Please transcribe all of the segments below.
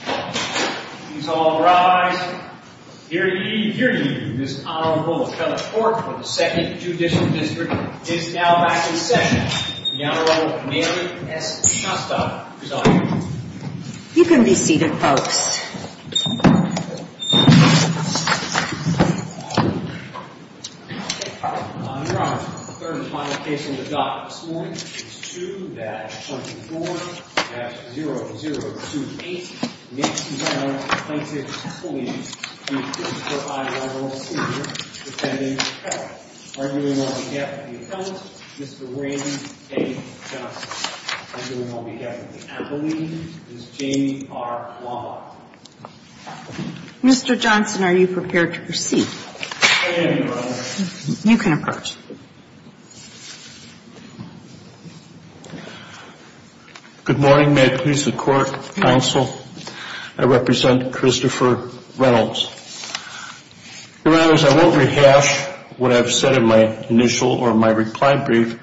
Please all rise. Hear ye, hear ye. This Honorable Appellate Court for the 2nd Judicial District is now back in session. The Honorable Mary S. Shostak is on you. You can be seated, folks. Your Honor, the 3rd and final case on the docket this morning is 2-24-0028. Next is our plaintiff's plea to the 4th High Level Senior Defendant Appellate. Arguing on behalf of the Appellant, Mr. Wayne A. Johnson. Arguing on behalf of the Appellee, Ms. Jamie R. Wambaugh. Mr. Johnson, are you prepared to proceed? I am, Your Honor. You can approach. Good morning. May it please the Court, Counsel. I represent Christopher Reynolds. Your Honors, I won't rehash what I've said in my initial or my reply brief,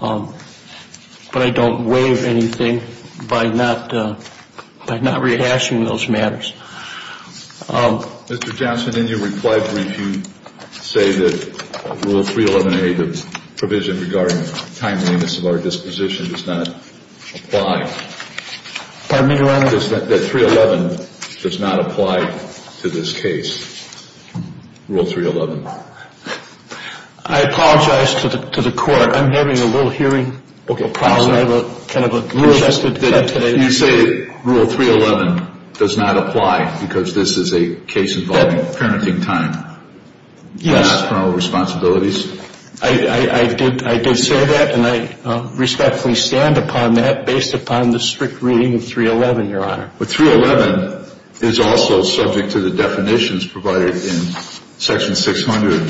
but I don't waive anything by not rehashing those matters. Mr. Johnson, in your reply brief, you say that Rule 311A, the provision regarding timeliness of our disposition, does not apply. Pardon me, Your Honor? That 311 does not apply to this case. Rule 311. I apologize to the Court. I'm having a little hearing problem. You say Rule 311 does not apply because this is a case involving parenting time? Yes. Not criminal responsibilities? I did say that, and I respectfully stand upon that based upon the strict reading of 311, Your Honor. But 311 is also subject to the definitions provided in Section 600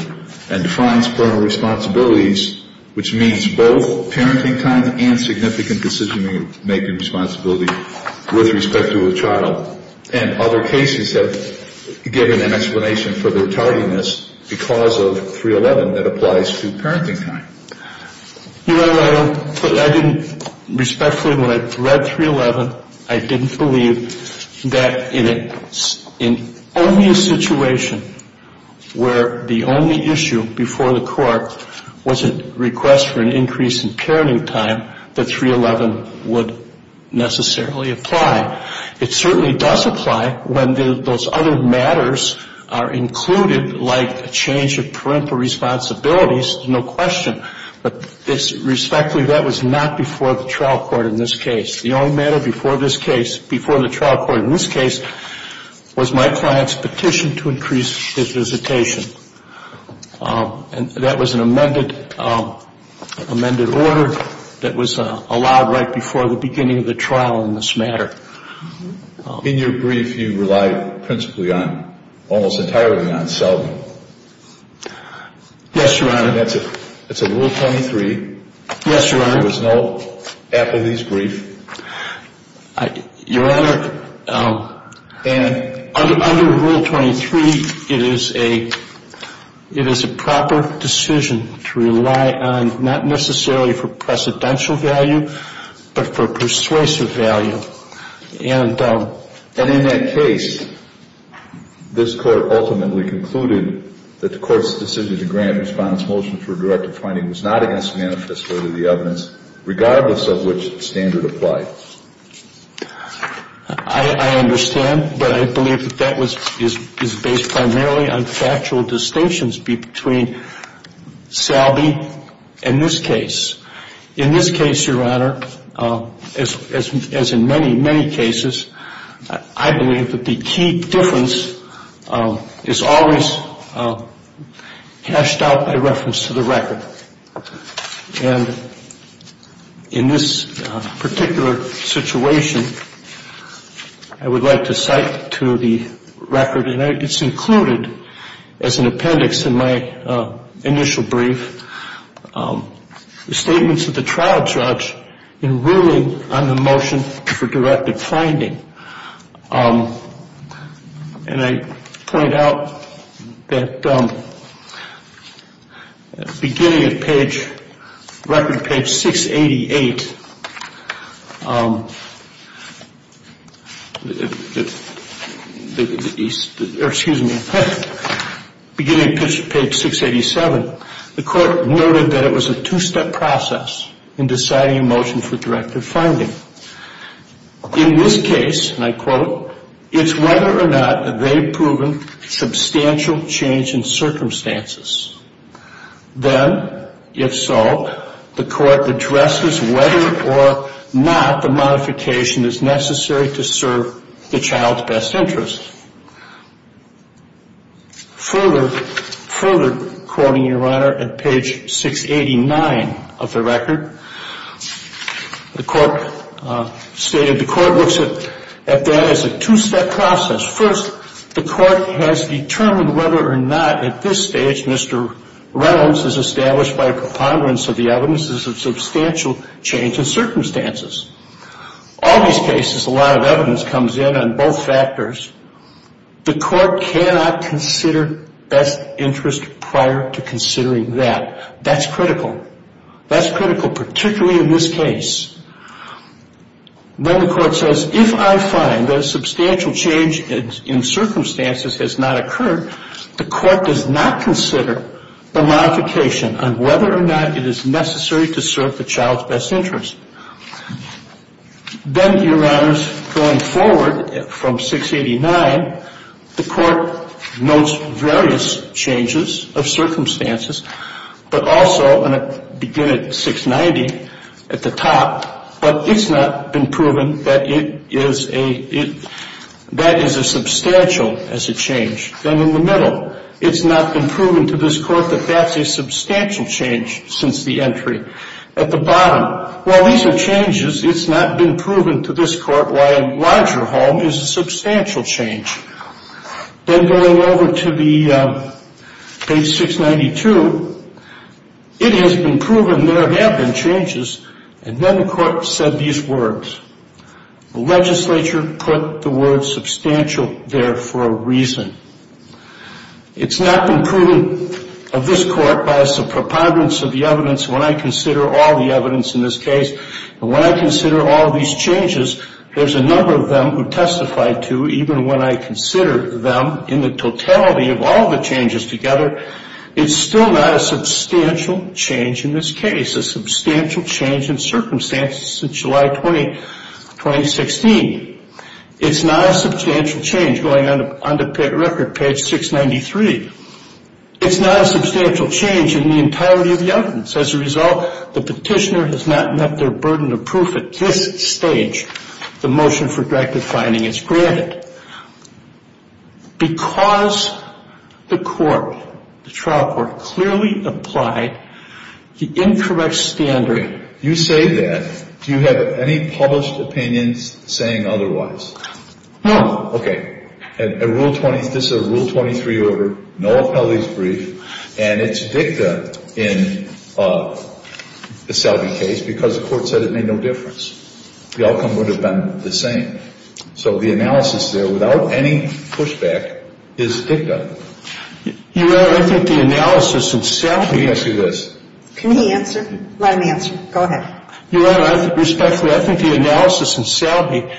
and defines criminal responsibilities, which means both parenting time and significant decision-making responsibility with respect to a child. And other cases have given an explanation for their tardiness because of 311 that applies to parenting time. Your Honor, I didn't respectfully, when I read 311, I didn't believe that in only a situation where the only issue before the Court was a request for an increase in parenting time, that 311 would necessarily apply. It certainly does apply when those other matters are included, like a change of parental responsibilities, there's no question. But respectfully, that was not before the trial court in this case. The only matter before this case, before the trial court in this case, was my client's petition to increase his visitation. And that was an amended order that was allowed right before the beginning of the trial in this matter. In your brief, you relied principally on, almost entirely on Selden. Yes, Your Honor. That's a Rule 23. Yes, Your Honor. There was no apathy's brief. Your Honor, under Rule 23, it is a proper decision to rely on, not necessarily for precedential value, but for persuasive value. And in that case, this Court ultimately concluded that the Court's decision to grant response motion for a directive finding was not against manifestly to the evidence, regardless of which standard applied. I understand, but I believe that that is based primarily on factual distinctions between Selden and this case. In this case, Your Honor, as in many, many cases, I believe that the key difference is always hashed out by reference to the record. And in this particular situation, I would like to cite to the record, and it's included as an appendix in my initial brief, the statements of the trial judge in ruling on the motion for directive finding. And I point out that at the beginning of page, record page 688, or excuse me, beginning of page 687, the Court noted that it was a two-step process in deciding a motion for directive finding. In this case, and I quote, it's whether or not they've proven substantial change in circumstances. Then, if so, the Court addresses whether or not the modification is necessary to serve the child's best interest. Further, further quoting, Your Honor, at page 689 of the record, the Court stated, the Court looks at that as a two-step process. First, the Court has determined whether or not at this stage Mr. Reynolds has established by preponderance of the evidences of substantial change in circumstances. All these cases, a lot of evidence comes in on both factors. The Court cannot consider best interest prior to considering that. That's critical. That's critical, particularly in this case. Then the Court says, if I find that a substantial change in circumstances has not occurred, the Court does not consider the modification on whether or not it is necessary to serve the child's best interest. Then, Your Honors, going forward from 689, the Court notes various changes of circumstances, but also, and I begin at 690 at the top, but it's not been proven that it is a, that is as substantial as a change. Then in the middle, it's not been proven to this Court that that's a substantial change since the entry. At the bottom, while these are changes, it's not been proven to this Court why a larger home is a substantial change. Then going over to the page 692, it has been proven there have been changes, and then the Court said these words. The legislature put the word substantial there for a reason. It's not been proven of this Court by a preponderance of the evidence when I consider all the evidence in this case, and when I consider all these changes, there's a number of them who testified to, even when I consider them in the totality of all the changes together, it's still not a substantial change in this case, a substantial change in circumstances since July 2016. It's not a substantial change going on to record page 693. It's not a substantial change in the entirety of the evidence. As a result, the petitioner has not met their burden of proof at this stage. The motion for directive finding is granted. And the reason I say that is because the Court, the trial Court, clearly applied the incorrect standard. Okay. You say that. Do you have any published opinions saying otherwise? No. Okay. A Rule 20, this is a Rule 23 order, no appellee's brief, and it's dicta in the Salve case because the Court said it made no difference. The outcome would have been the same. So the analysis there, without any pushback, is dicta. Your Honor, I think the analysis in Salve. Let me ask you this. Can he answer? Let him answer. Go ahead. Your Honor, respectfully, I think the analysis in Salve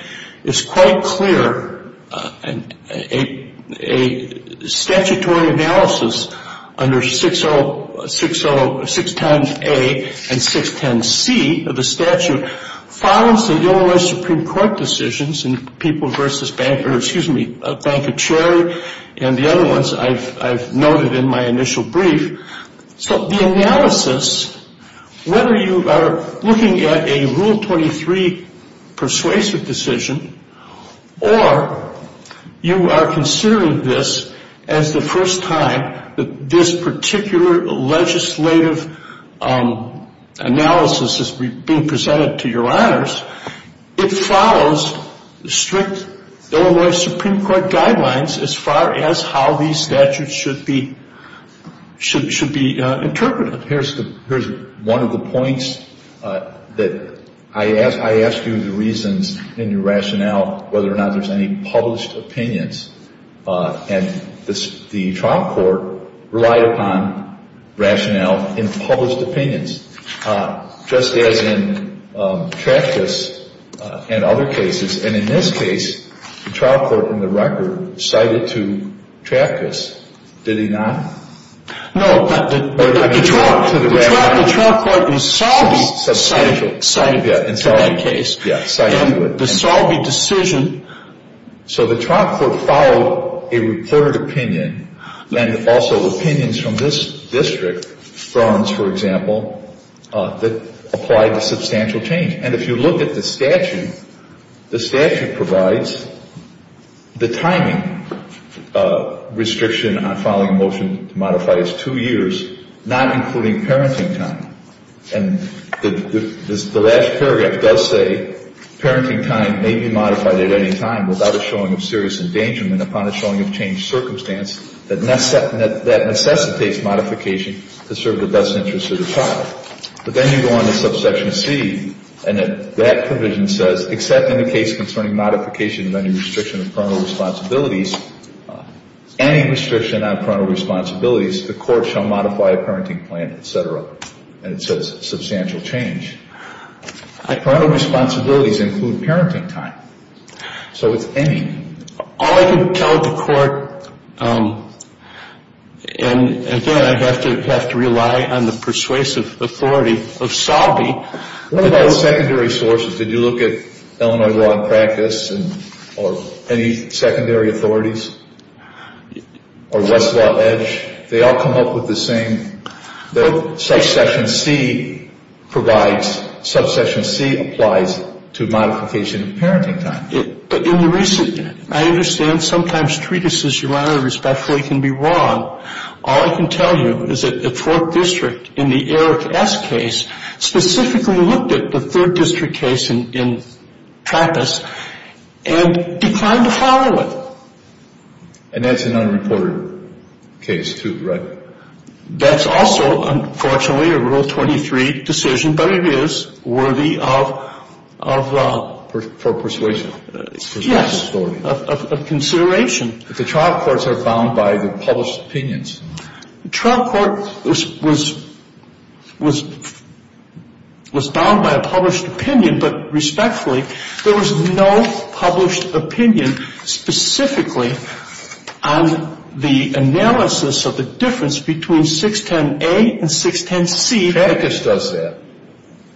is quite clear. A statutory analysis under 610A and 610C of the statute follows the U.S. Supreme Court decisions in People v. Banker, excuse me, Banker-Cherry and the other ones I've noted in my initial brief. So the analysis, whether you are looking at a Rule 23 persuasive decision or you are considering this as the first time that this particular legislative analysis is being presented to your Honors, it follows the strict Illinois Supreme Court guidelines as far as how these statutes should be interpreted. Here's one of the points that I asked you the reasons in your rationale whether or not there's any published opinions. And the trial court relied upon rationale in published opinions. Just as in Traftis and other cases. And in this case, the trial court in the record cited to Traftis. Did he not? No. The trial court in Salve cited to that case. Yeah, cited to it. In the Salve decision. So the trial court followed a reported opinion. And also opinions from this district, Browns, for example, that applied to substantial change. And if you look at the statute, the statute provides the timing restriction on following a motion to modify is two years, not including parenting time. And the last paragraph does say parenting time may be modified at any time without a showing of serious endangerment upon a showing of changed circumstance that necessitates modification to serve the best interest of the child. But then you go on to subsection C, and that provision says, except in the case concerning modification of any restriction of parental responsibilities, any restriction on parental responsibilities, the court shall modify a parenting plan, et cetera. And it says substantial change. Parental responsibilities include parenting time. So it's any. All I can tell the court, and again, I have to rely on the persuasive authority of Salve. What about secondary sources? Did you look at Illinois Law in Practice or any secondary authorities or Westlaw Edge? They all come up with the same. Subsection C provides, subsection C applies to modification of parenting time. But in the recent, I understand sometimes treatises, Your Honor, respectfully can be wrong. All I can tell you is that the Fourth District in the Eric S. case specifically looked at the Third District case in practice and declined to follow it. And that's an unreported case too, right? That's also, unfortunately, a Rule 23 decision, but it is worthy of the... For persuasion. Yes, of consideration. But the trial courts are bound by the published opinions. The trial court was bound by a published opinion, but respectfully, there was no published opinion specifically on the analysis of the difference between 610A and 610C. Trappist does that.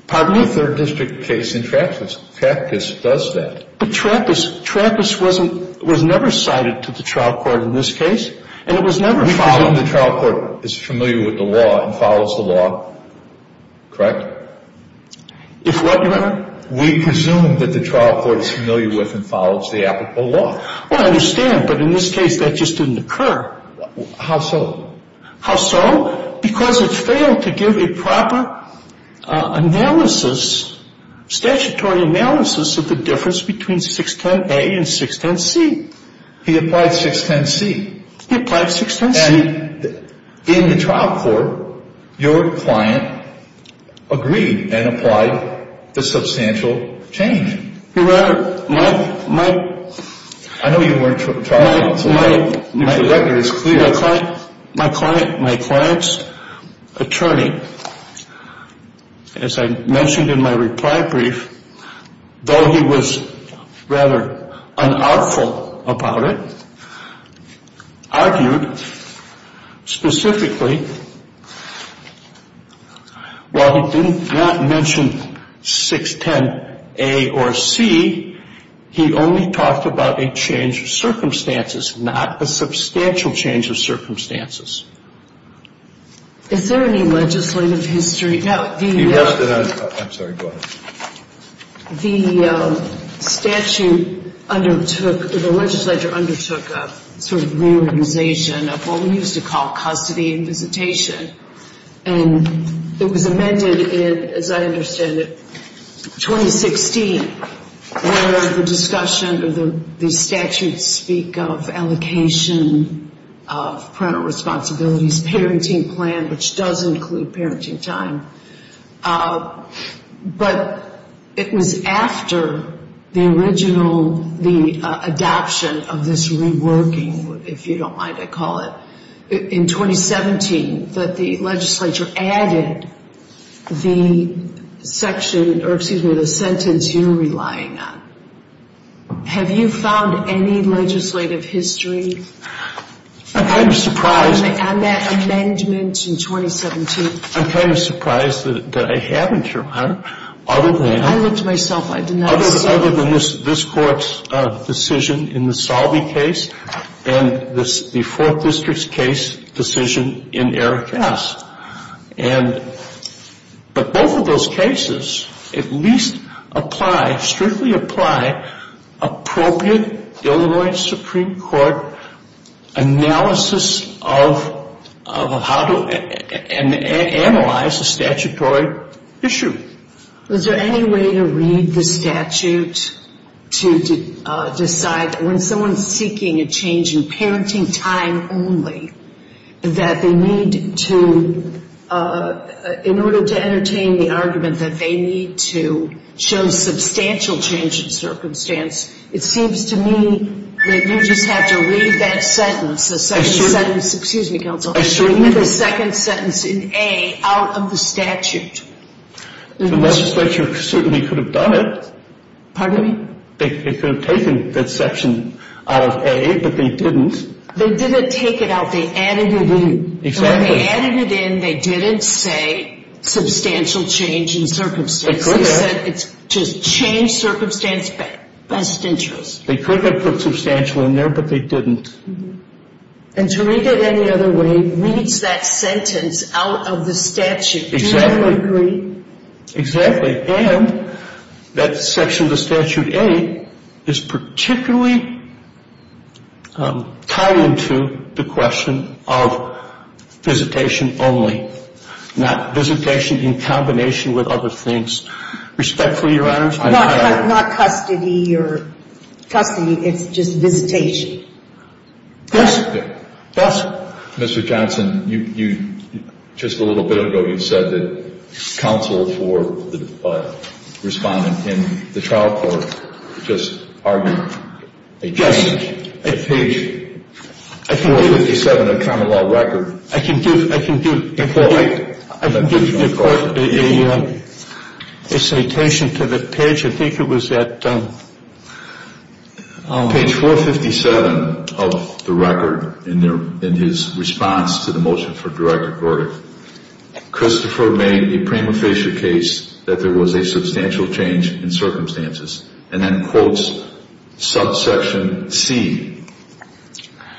Pardon me? The Third District case in practice, Trappist does that. But Trappist was never cited to the trial court in this case, and it was never followed. We presume the trial court is familiar with the law and follows the law, correct? If what, Your Honor? We presume that the trial court is familiar with and follows the applicable law. I understand, but in this case, that just didn't occur. How so? How so? Because it failed to give a proper analysis, statutory analysis of the difference between 610A and 610C. He applied 610C. He applied 610C. And in the trial court, your client agreed and applied the substantial change. Your Honor, my client's attorney, as I mentioned in my reply brief, though he was rather unartful about it, argued specifically while he didn't want to mention 610A or C, he only talked about a change of circumstances, not a substantial change of circumstances. Is there any legislative history? I'm sorry. Go ahead. The statute undertook, the legislature undertook a sort of reorganization of what we used to call custody and visitation. And it was amended in, as I understand it, 2016, where the discussion of the statute speak of allocation of parental responsibilities, parenting plan, which does include parenting time. But it was after the original, the adoption of this reworking, if you don't mind I call it, in 2017, that the legislature added the section, or excuse me, the sentence you're relying on. Have you found any legislative history on that amendment in 2017? I'm kind of surprised that I haven't, Your Honor, other than this Court's decision in the Salve case and the Fourth District's case decision in Eric S. But both of those cases at least apply, strictly apply appropriate Illinois Supreme Court analysis of how to analyze a statutory issue. Was there any way to read the statute to decide that when someone's seeking a change in parenting time only, that they need to, in order to entertain the argument that they need to show substantial change in circumstance, it seems to me that you just have to read that sentence, the second sentence, excuse me, counsel, read the second sentence in A out of the statute. The legislature certainly could have done it. Pardon me? They could have taken that section out of A, but they didn't. They didn't take it out. They added it in. Exactly. When they added it in, they didn't say substantial change in circumstance. They could have. They said it's just change circumstance best interest. They could have put substantial in there, but they didn't. And to read it any other way reads that sentence out of the statute. Exactly. Exactly. And that section of the Statute 8 is particularly tied into the question of visitation only, not visitation in combination with other things. Respectfully, Your Honors, I'm not. Not custody or custody. It's just visitation. Yes. Yes. Mr. Johnson, you, just a little bit ago, you said that counsel for the respondent in the trial court just argued a change at page 457 of the Common Law Record. I can give you a citation to the page. I think it was at page 457 of the record in his response to the motion from Director Gordy. Christopher made a prima facie case that there was a substantial change in circumstances. And then quotes subsection C.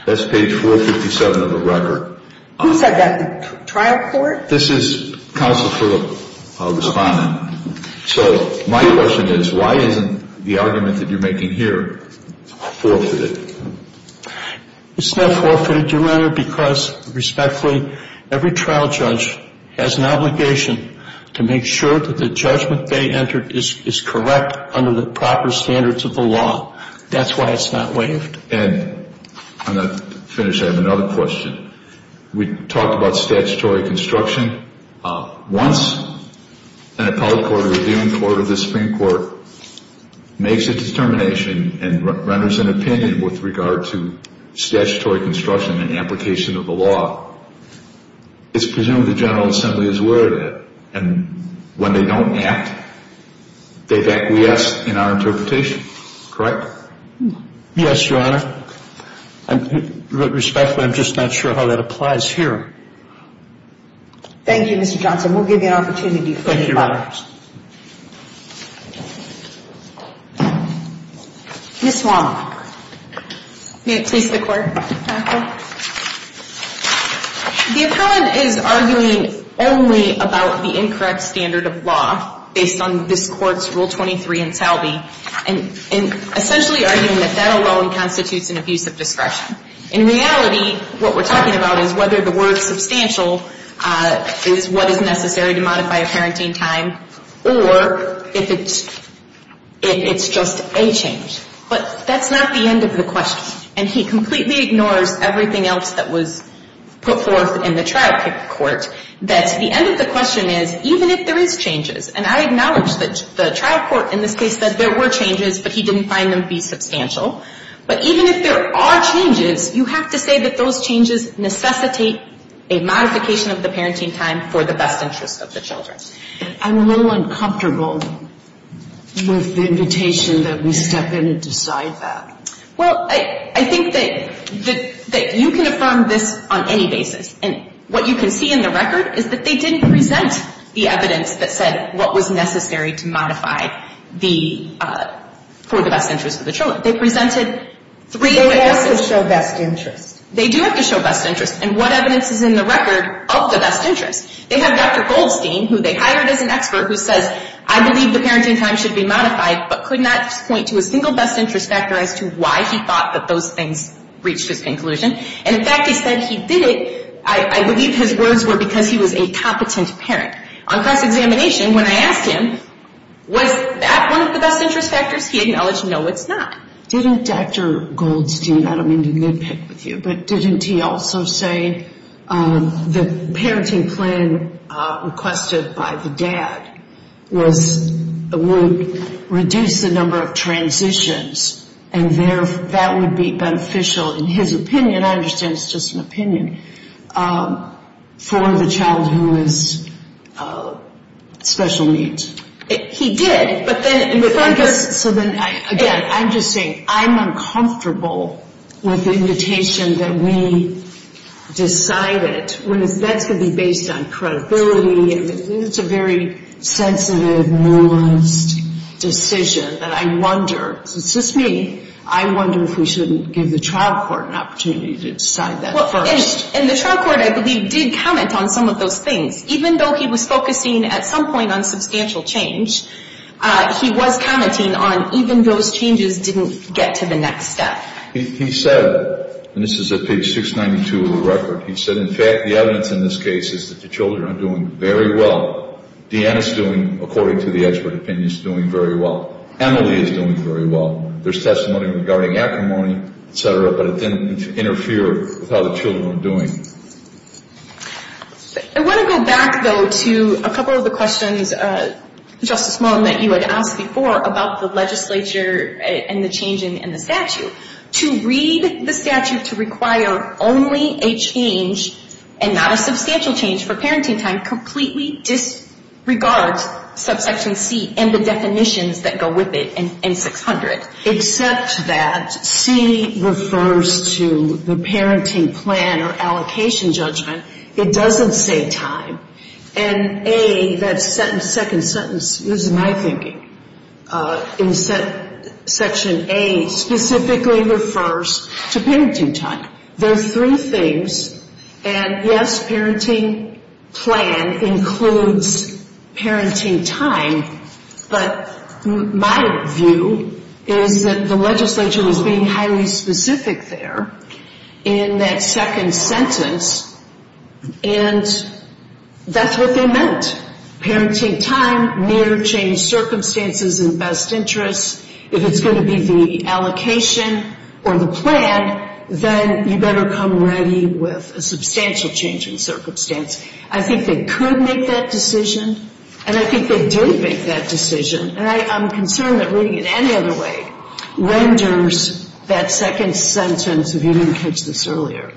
That's page 457 of the record. Who said that? The trial court? This is counsel for the respondent. So my question is why isn't the argument that you're making here forfeited? It's not forfeited, Your Honor, because respectfully every trial judge has an obligation to make sure that the judgment they entered is correct under the proper standards of the law. That's why it's not waived. And to finish, I have another question. We talked about statutory construction. Once an appellate court or a reviewing court or the Supreme Court makes a determination and renders an opinion with regard to statutory construction and application of the law, it's presumed the General Assembly is aware of that. And when they don't act, they've acquiesced in our interpretation. Correct? Yes, Your Honor. Respectfully, I'm just not sure how that applies here. Thank you, Mr. Johnson. We'll give you an opportunity to finish. Thank you, Your Honor. Ms. Wong. May it please the Court, Your Honor. The appellant is arguing only about the incorrect standard of law based on this Court's Rule 23 in Salve and essentially arguing that that alone constitutes an abuse of discretion. In reality, what we're talking about is whether the word substantial is what is necessary to modify a parenting time or if it's just a change. But that's not the end of the question. And he completely ignores everything else that was put forth in the trial court, that the end of the question is, even if there is changes, and I acknowledge that the trial court in this case said there were changes, but he didn't find them to be substantial. But even if there are changes, you have to say that those changes necessitate a modification of the parenting time for the best interest of the children. I'm a little uncomfortable with the invitation that we step in and decide that. Well, I think that you can affirm this on any basis. And what you can see in the record is that they didn't present the evidence that said what was necessary to modify for the best interest of the children. They presented three different evidence. They have to show best interest. They do have to show best interest. And what evidence is in the record of the best interest? They have Dr. Goldstein, who they hired as an expert, who says, I believe the parenting time should be modified, but could not point to a single best interest factor as to why he thought that those things reached his conclusion. And, in fact, he said he did it, I believe his words were, because he was a competent parent. On cross-examination, when I asked him, was that one of the best interest factors, he acknowledged, no, it's not. Didn't Dr. Goldstein, I don't mean to nitpick with you, but didn't he also say the parenting plan requested by the dad would reduce the number of transitions, and that would be beneficial, in his opinion, I understand it's just an opinion, for the child who is special needs? He did. So then, again, I'm just saying, I'm uncomfortable with the invitation that we decided, when that's going to be based on credibility, and it's a very sensitive, nuanced decision, that I wonder, because it's just me, I wonder if we shouldn't give the trial court an opportunity to decide that first. And the trial court, I believe, did comment on some of those things. Even though he was focusing, at some point, on substantial change, he was commenting on even those changes didn't get to the next step. He said, and this is at page 692 of the record, he said, in fact, the evidence in this case is that the children are doing very well. Deanna's doing, according to the expert opinion, is doing very well. Emily is doing very well. There's testimony regarding acrimony, et cetera, but it didn't interfere with how the children were doing. I want to go back, though, to a couple of the questions, Justice Mullen, that you had asked before about the legislature and the change in the statute. To read the statute to require only a change and not a substantial change for parenting time completely disregards subsection C and the definitions that go with it in 600. Except that C refers to the parenting plan or allocation judgment. It doesn't say time. And A, that second sentence, this is my thinking, in section A specifically refers to parenting time. There are three things, and, yes, parenting plan includes parenting time, but my view is that the legislature was being highly specific there in that second sentence, and that's what they meant, parenting time, near change circumstances and best interests. If it's going to be the allocation or the plan, then you better come ready with a substantial change in circumstance. I think they could make that decision, and I think they didn't make that decision, and I'm concerned that reading it any other way renders that second sentence, if you didn't catch this earlier,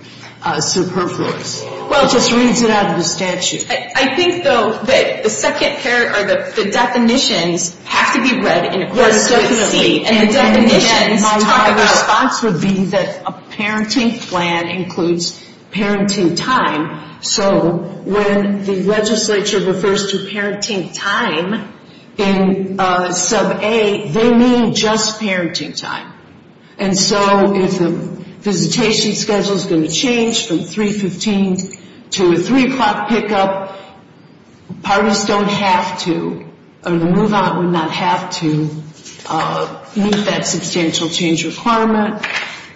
superfluous. Well, it just reads it out of the statute. I think, though, that the second pair or the definitions have to be read in accordance with C. And my response would be that a parenting plan includes parenting time, so when the legislature refers to parenting time in sub A, they mean just parenting time. And so if the visitation schedule is going to change from 315 to a 3 o'clock pickup, parties don't have to, or the move-on would not have to meet that substantial change requirement.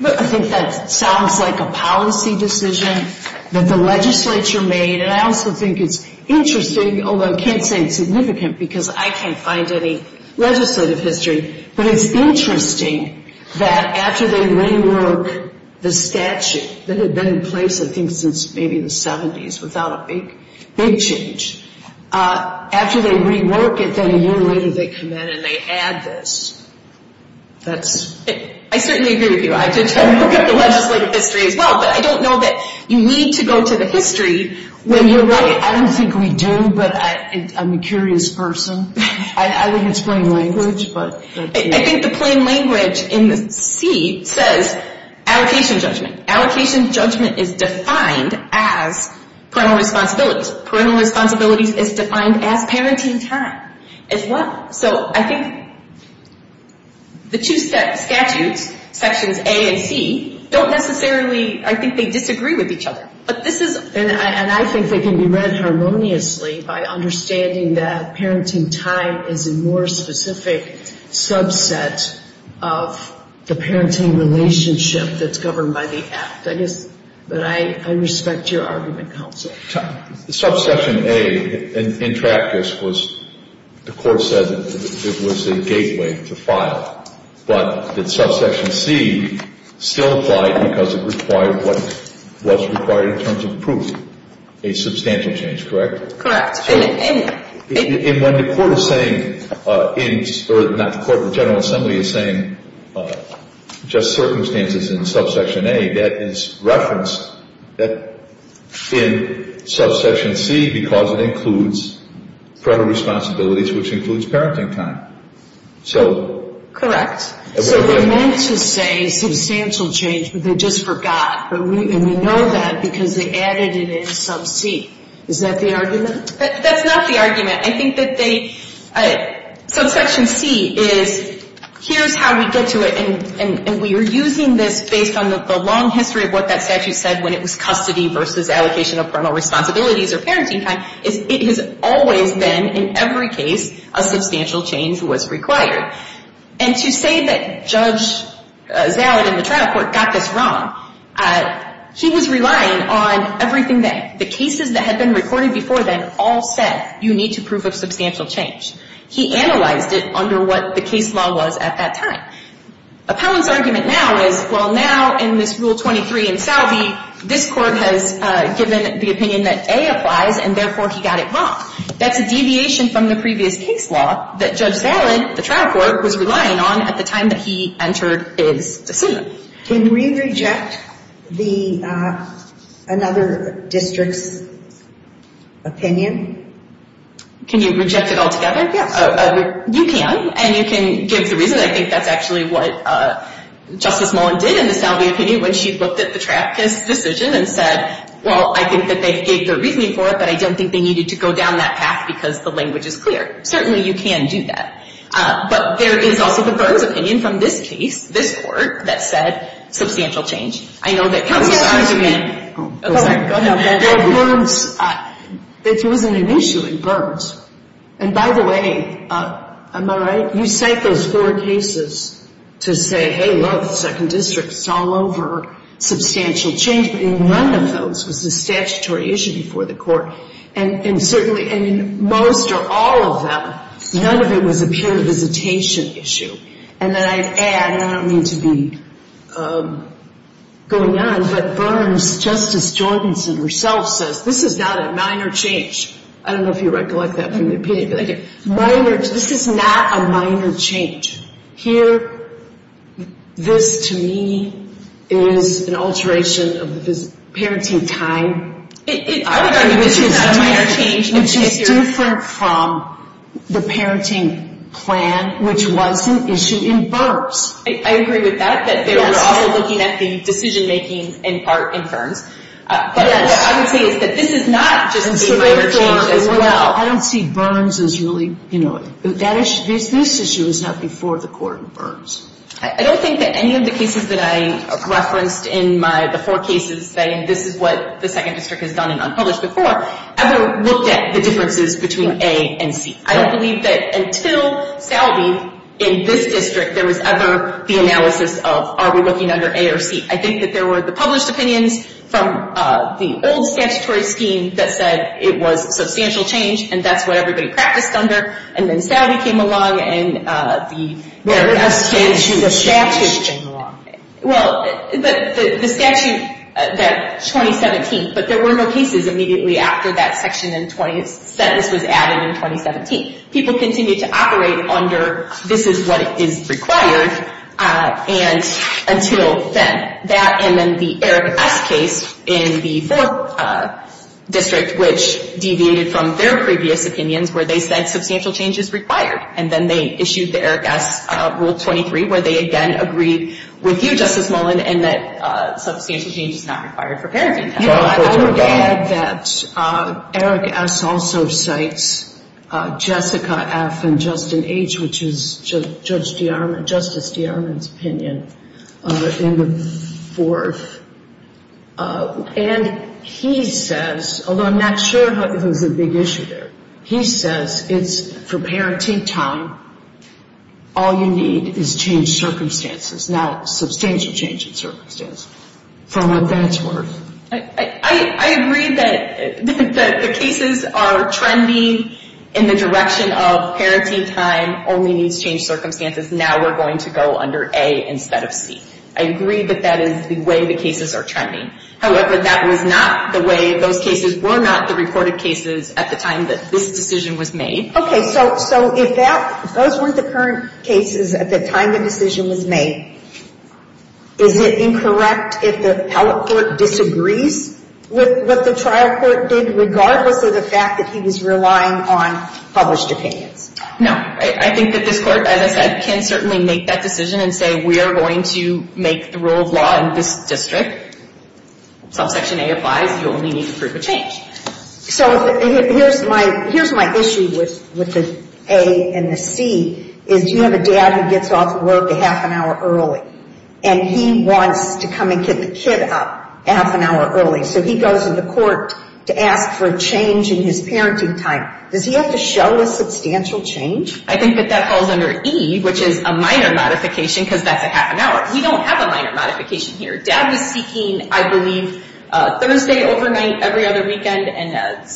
I think that sounds like a policy decision that the legislature made, and I also think it's interesting, although I can't say it's significant, because I can't find any legislative history, but it's interesting that after they rework the statute that had been in place, I think, since maybe the 70s, without a big change, after they rework it, then a year later they come in and they add this. I certainly agree with you. I did try to look up the legislative history as well, but I don't know that you need to go to the history when you're right. I don't think we do, but I'm a curious person. I think it's plain language. I think the plain language in C says allocation judgment. Allocation judgment is defined as parental responsibilities. Parental responsibilities is defined as parenting time as well. So I think the two statutes, Sections A and C, don't necessarily, I think they disagree with each other. But this is... And I think they can be read harmoniously by understanding that parenting time is a more specific subset of the parenting relationship that's governed by the Act. But I respect your argument, counsel. Subsection A, in practice, was, the Court said it was a gateway to file. But did Subsection C still apply because it required what was required in terms of proof? A substantial change, correct? Correct. And when the Court is saying, or not the Court, the General Assembly is saying just circumstances in Subsection A, that is referenced in Subsection C because it includes parental responsibilities, which includes parenting time. So... Correct. So they meant to say substantial change, but they just forgot. And we know that because they added it in Sub C. Is that the argument? That's not the argument. I think that they, Subsection C is, here's how we get to it. And we are using this based on the long history of what that statute said when it was custody versus allocation of parental responsibilities or parenting time. It has always been, in every case, a substantial change was required. And to say that Judge Zalid in the trial court got this wrong, he was relying on everything that the cases that had been recorded before then all said, you need to prove a substantial change. He analyzed it under what the case law was at that time. Appellant's argument now is, well, now in this Rule 23 in Salve, this Court has given the opinion that A applies, and therefore he got it wrong. That's a deviation from the previous case law that Judge Zalid, the trial court, was relying on at the time that he entered his decision. Can we reject another district's opinion? Can you reject it altogether? Yes. You can. And you can give the reason. I think that's actually what Justice Mullen did in the Salve opinion when she looked at the traffickers' decision and said, well, I think that they gave their reasoning for it, but I don't think they needed to go down that path because the language is clear. Certainly you can do that. But there is also the Burns opinion from this case, this Court, that said substantial change. I know that counsel's argument goes on. It wasn't an issue in Burns. And by the way, am I right, you cite those four cases to say, hey, look, second district, it's all over, substantial change. But in none of those was the statutory issue before the Court. And certainly in most or all of them, none of it was a peer visitation issue. And then I'd add, and I don't mean to be going on, but Burns, Justice Jordanson herself says, this is not a minor change. I don't know if you recollect that from the opinion, but this is not a minor change. Here, this to me is an alteration of the parenting time. Which is different from the parenting plan, which was an issue in Burns. I agree with that, that they were also looking at the decision-making in part in Burns. But what I would say is that this is not just a minor change as well. I don't see Burns as really, you know, this issue is not before the Court in Burns. I don't think that any of the cases that I referenced in my, the four cases, saying this is what the second district has done in unpublished before, ever looked at the differences between A and C. I don't believe that until Salve, in this district, there was ever the analysis of are we looking under A or C. I think that there were the published opinions from the old statutory scheme that said it was substantial change, and that's what everybody practiced under. And then Salve came along, and the statute came along. Well, but the statute, that 2017, but there were no cases immediately after that section in 20, sentence was added in 2017. People continued to operate under this is what is required, and until then. That, and then the Eric S. case in the fourth district, which deviated from their previous opinions, where they said substantial change is required. And then they issued the Eric S. Rule 23, where they again agreed with you, Justice Mullin, and that substantial change is not required for parenting. You know, I would add that Eric S. also cites Jessica F. and Justin H., which is Judge DeArmond, Justice DeArmond's opinion in the fourth. And he says, although I'm not sure if it was a big issue there, he says it's for parenting time, all you need is changed circumstances, not substantial change in circumstances. From what that's worth. I agree that the cases are trending in the direction of parenting time only needs changed circumstances. Now we're going to go under A instead of C. I agree that that is the way the cases are trending. However, that was not the way those cases were not the reported cases at the time that this decision was made. Okay, so if those weren't the current cases at the time the decision was made, is it incorrect if the appellate court disagrees with what the trial court did, regardless of the fact that he was relying on published opinions? No, I think that this court, as I said, can certainly make that decision and say we are going to make the rule of law in this district. Subsection A applies, you only need to prove a change. So here's my issue with the A and the C, is you have a dad who gets off work a half an hour early, and he wants to come and get the kid up a half an hour early, so he goes to the court to ask for a change in his parenting time. Does he have to show a substantial change? I think that that falls under E, which is a minor modification because that's a half an hour. We don't have a minor modification here. Dad was speaking, I believe, Thursday overnight every other weekend and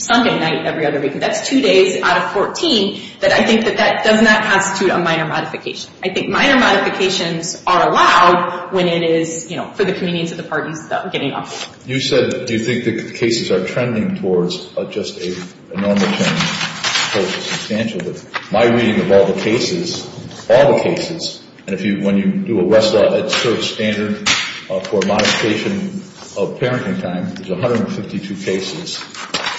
Sunday night every other weekend. That's two days out of 14, but I think that that does not constitute a minor modification. I think minor modifications are allowed when it is, you know, for the convenience of the parties getting off. You said you think the cases are trending towards just a normal change. I suppose it's substantial, but my reading of all the cases, all the cases, and when you do a Westlaw at cert standard for modification of parenting time, there's 152 cases,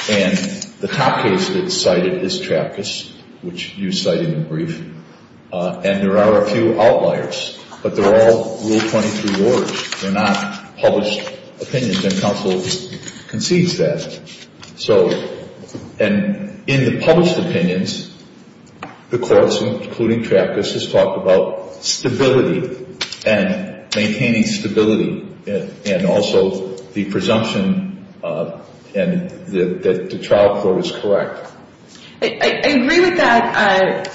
and the top case that's cited is Trapkis, which you cited in the brief, and there are a few outliers, but they're all Rule 23 orders. They're not published opinions, and counsel concedes that. And in the published opinions, the courts, including Trapkis, has talked about stability and maintaining stability and also the presumption that the trial court is correct. I agree with that,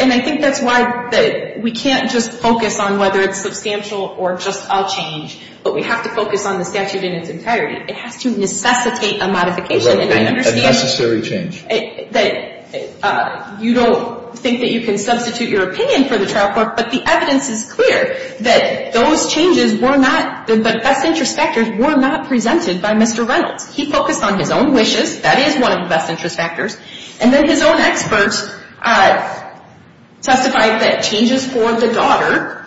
and I think that's why we can't just focus on whether it's substantial or just all change, but we have to focus on the statute in its entirety. It has to necessitate a modification, and I understand that you don't think that you can substitute your opinion for the trial court, but the evidence is clear that those changes were not the best interest factors were not presented by Mr. Reynolds. He focused on his own wishes. That is one of the best interest factors, and then his own experts testified that changes for the daughter,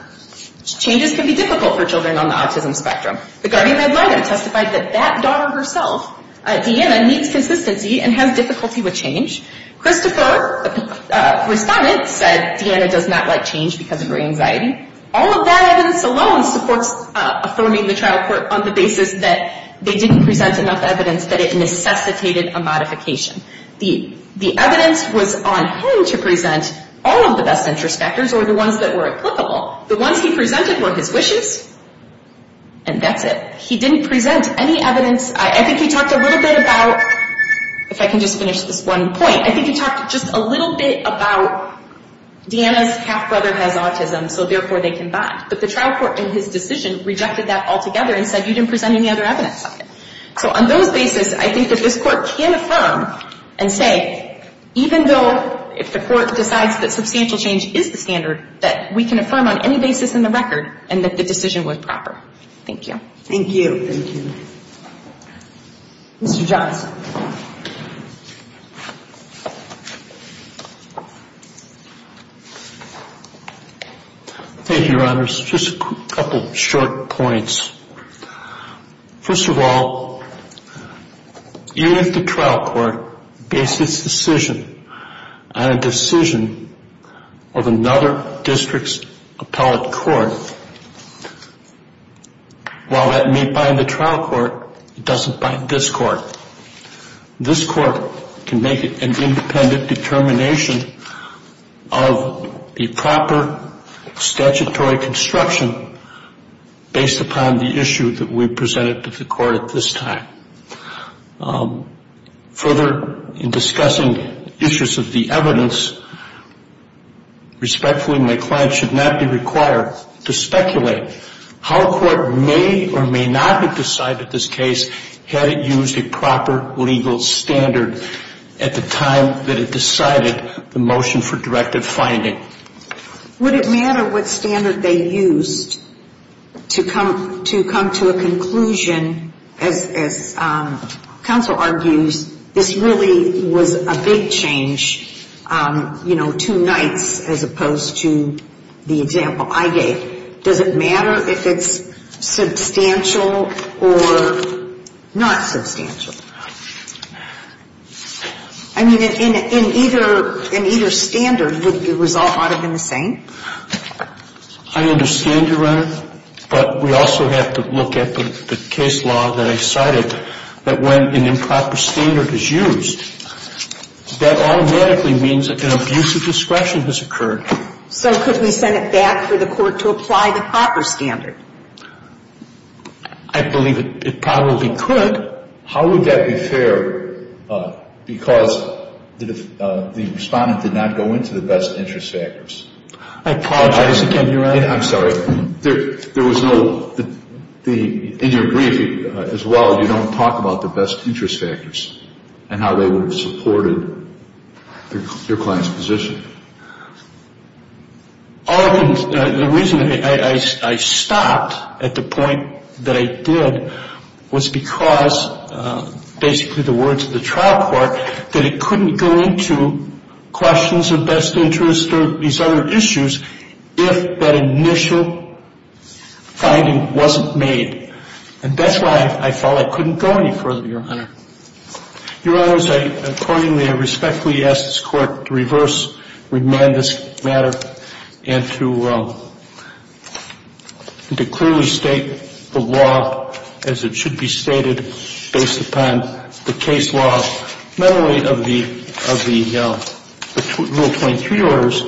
changes can be difficult for children on the autism spectrum. The guardian-led lawyer testified that that daughter herself, Deanna, needs consistency and has difficulty with change. Christopher, the respondent, said Deanna does not like change because of her anxiety. All of that evidence alone supports affirming the trial court on the basis that they didn't present enough evidence that it necessitated a modification. The evidence was on him to present all of the best interest factors or the ones that were applicable. The ones he presented were his wishes, and that's it. He didn't present any evidence. I think he talked a little bit about, if I can just finish this one point, I think he talked just a little bit about Deanna's half-brother has autism, so therefore they can bond. But the trial court in his decision rejected that altogether and said you didn't present any other evidence. So on those basis, I think that this court can affirm and say, even though if the court decides that substantial change is the standard, that we can affirm on any basis in the record and that the decision was proper. Thank you. Thank you. Thank you. Mr. Johnson. Thank you, Your Honors. Just a couple short points. First of all, even if the trial court based its decision on a decision of another district's appellate court, while that may bind the trial court, it doesn't bind this court. This court can make an independent determination of the proper statutory construction based upon the issue that we presented to the court at this time. Further, in discussing issues of the evidence, respectfully, my client should not be required to speculate how a court may or may not have decided this case had it used a proper legal standard at the time that it decided the motion for directive finding. Would it matter what standard they used to come to a conclusion? As counsel argues, this really was a big change, you know, two nights as opposed to the example I gave. Does it matter if it's substantial or not substantial? I mean, in either standard, it was all ought to have been the same. I understand, Your Honor, but we also have to look at the case law that I cited, that when an improper standard is used, that automatically means that an abuse of discretion has occurred. So could we send it back for the court to apply the proper standard? I believe it probably could. But how would that be fair because the respondent did not go into the best interest factors? I apologize again, Your Honor. I'm sorry. There was no – in your brief as well, you don't talk about the best interest factors and how they would have supported your client's position. The reason I stopped at the point that I did was because basically the words of the trial court that it couldn't go into questions of best interest or these other issues if that initial finding wasn't made. And that's why I felt I couldn't go any further, Your Honor. Your Honors, accordingly, I respectfully ask this Court to reverse, remand this matter and to clearly state the law as it should be stated based upon the case law, not only of the Rule 23 orders,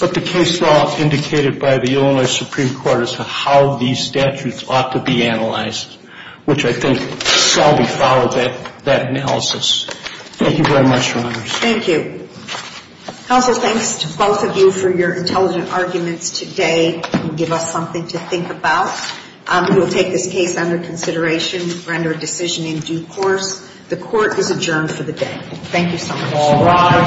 but the case law indicated by the Illinois Supreme Court as to how these statutes ought to be analyzed, which I think shall be followed, that analysis. Thank you very much, Your Honors. Thank you. Counsel, thanks to both of you for your intelligent arguments today and give us something to think about. We will take this case under consideration, render a decision in due course. The Court is adjourned for the day. Thank you so much.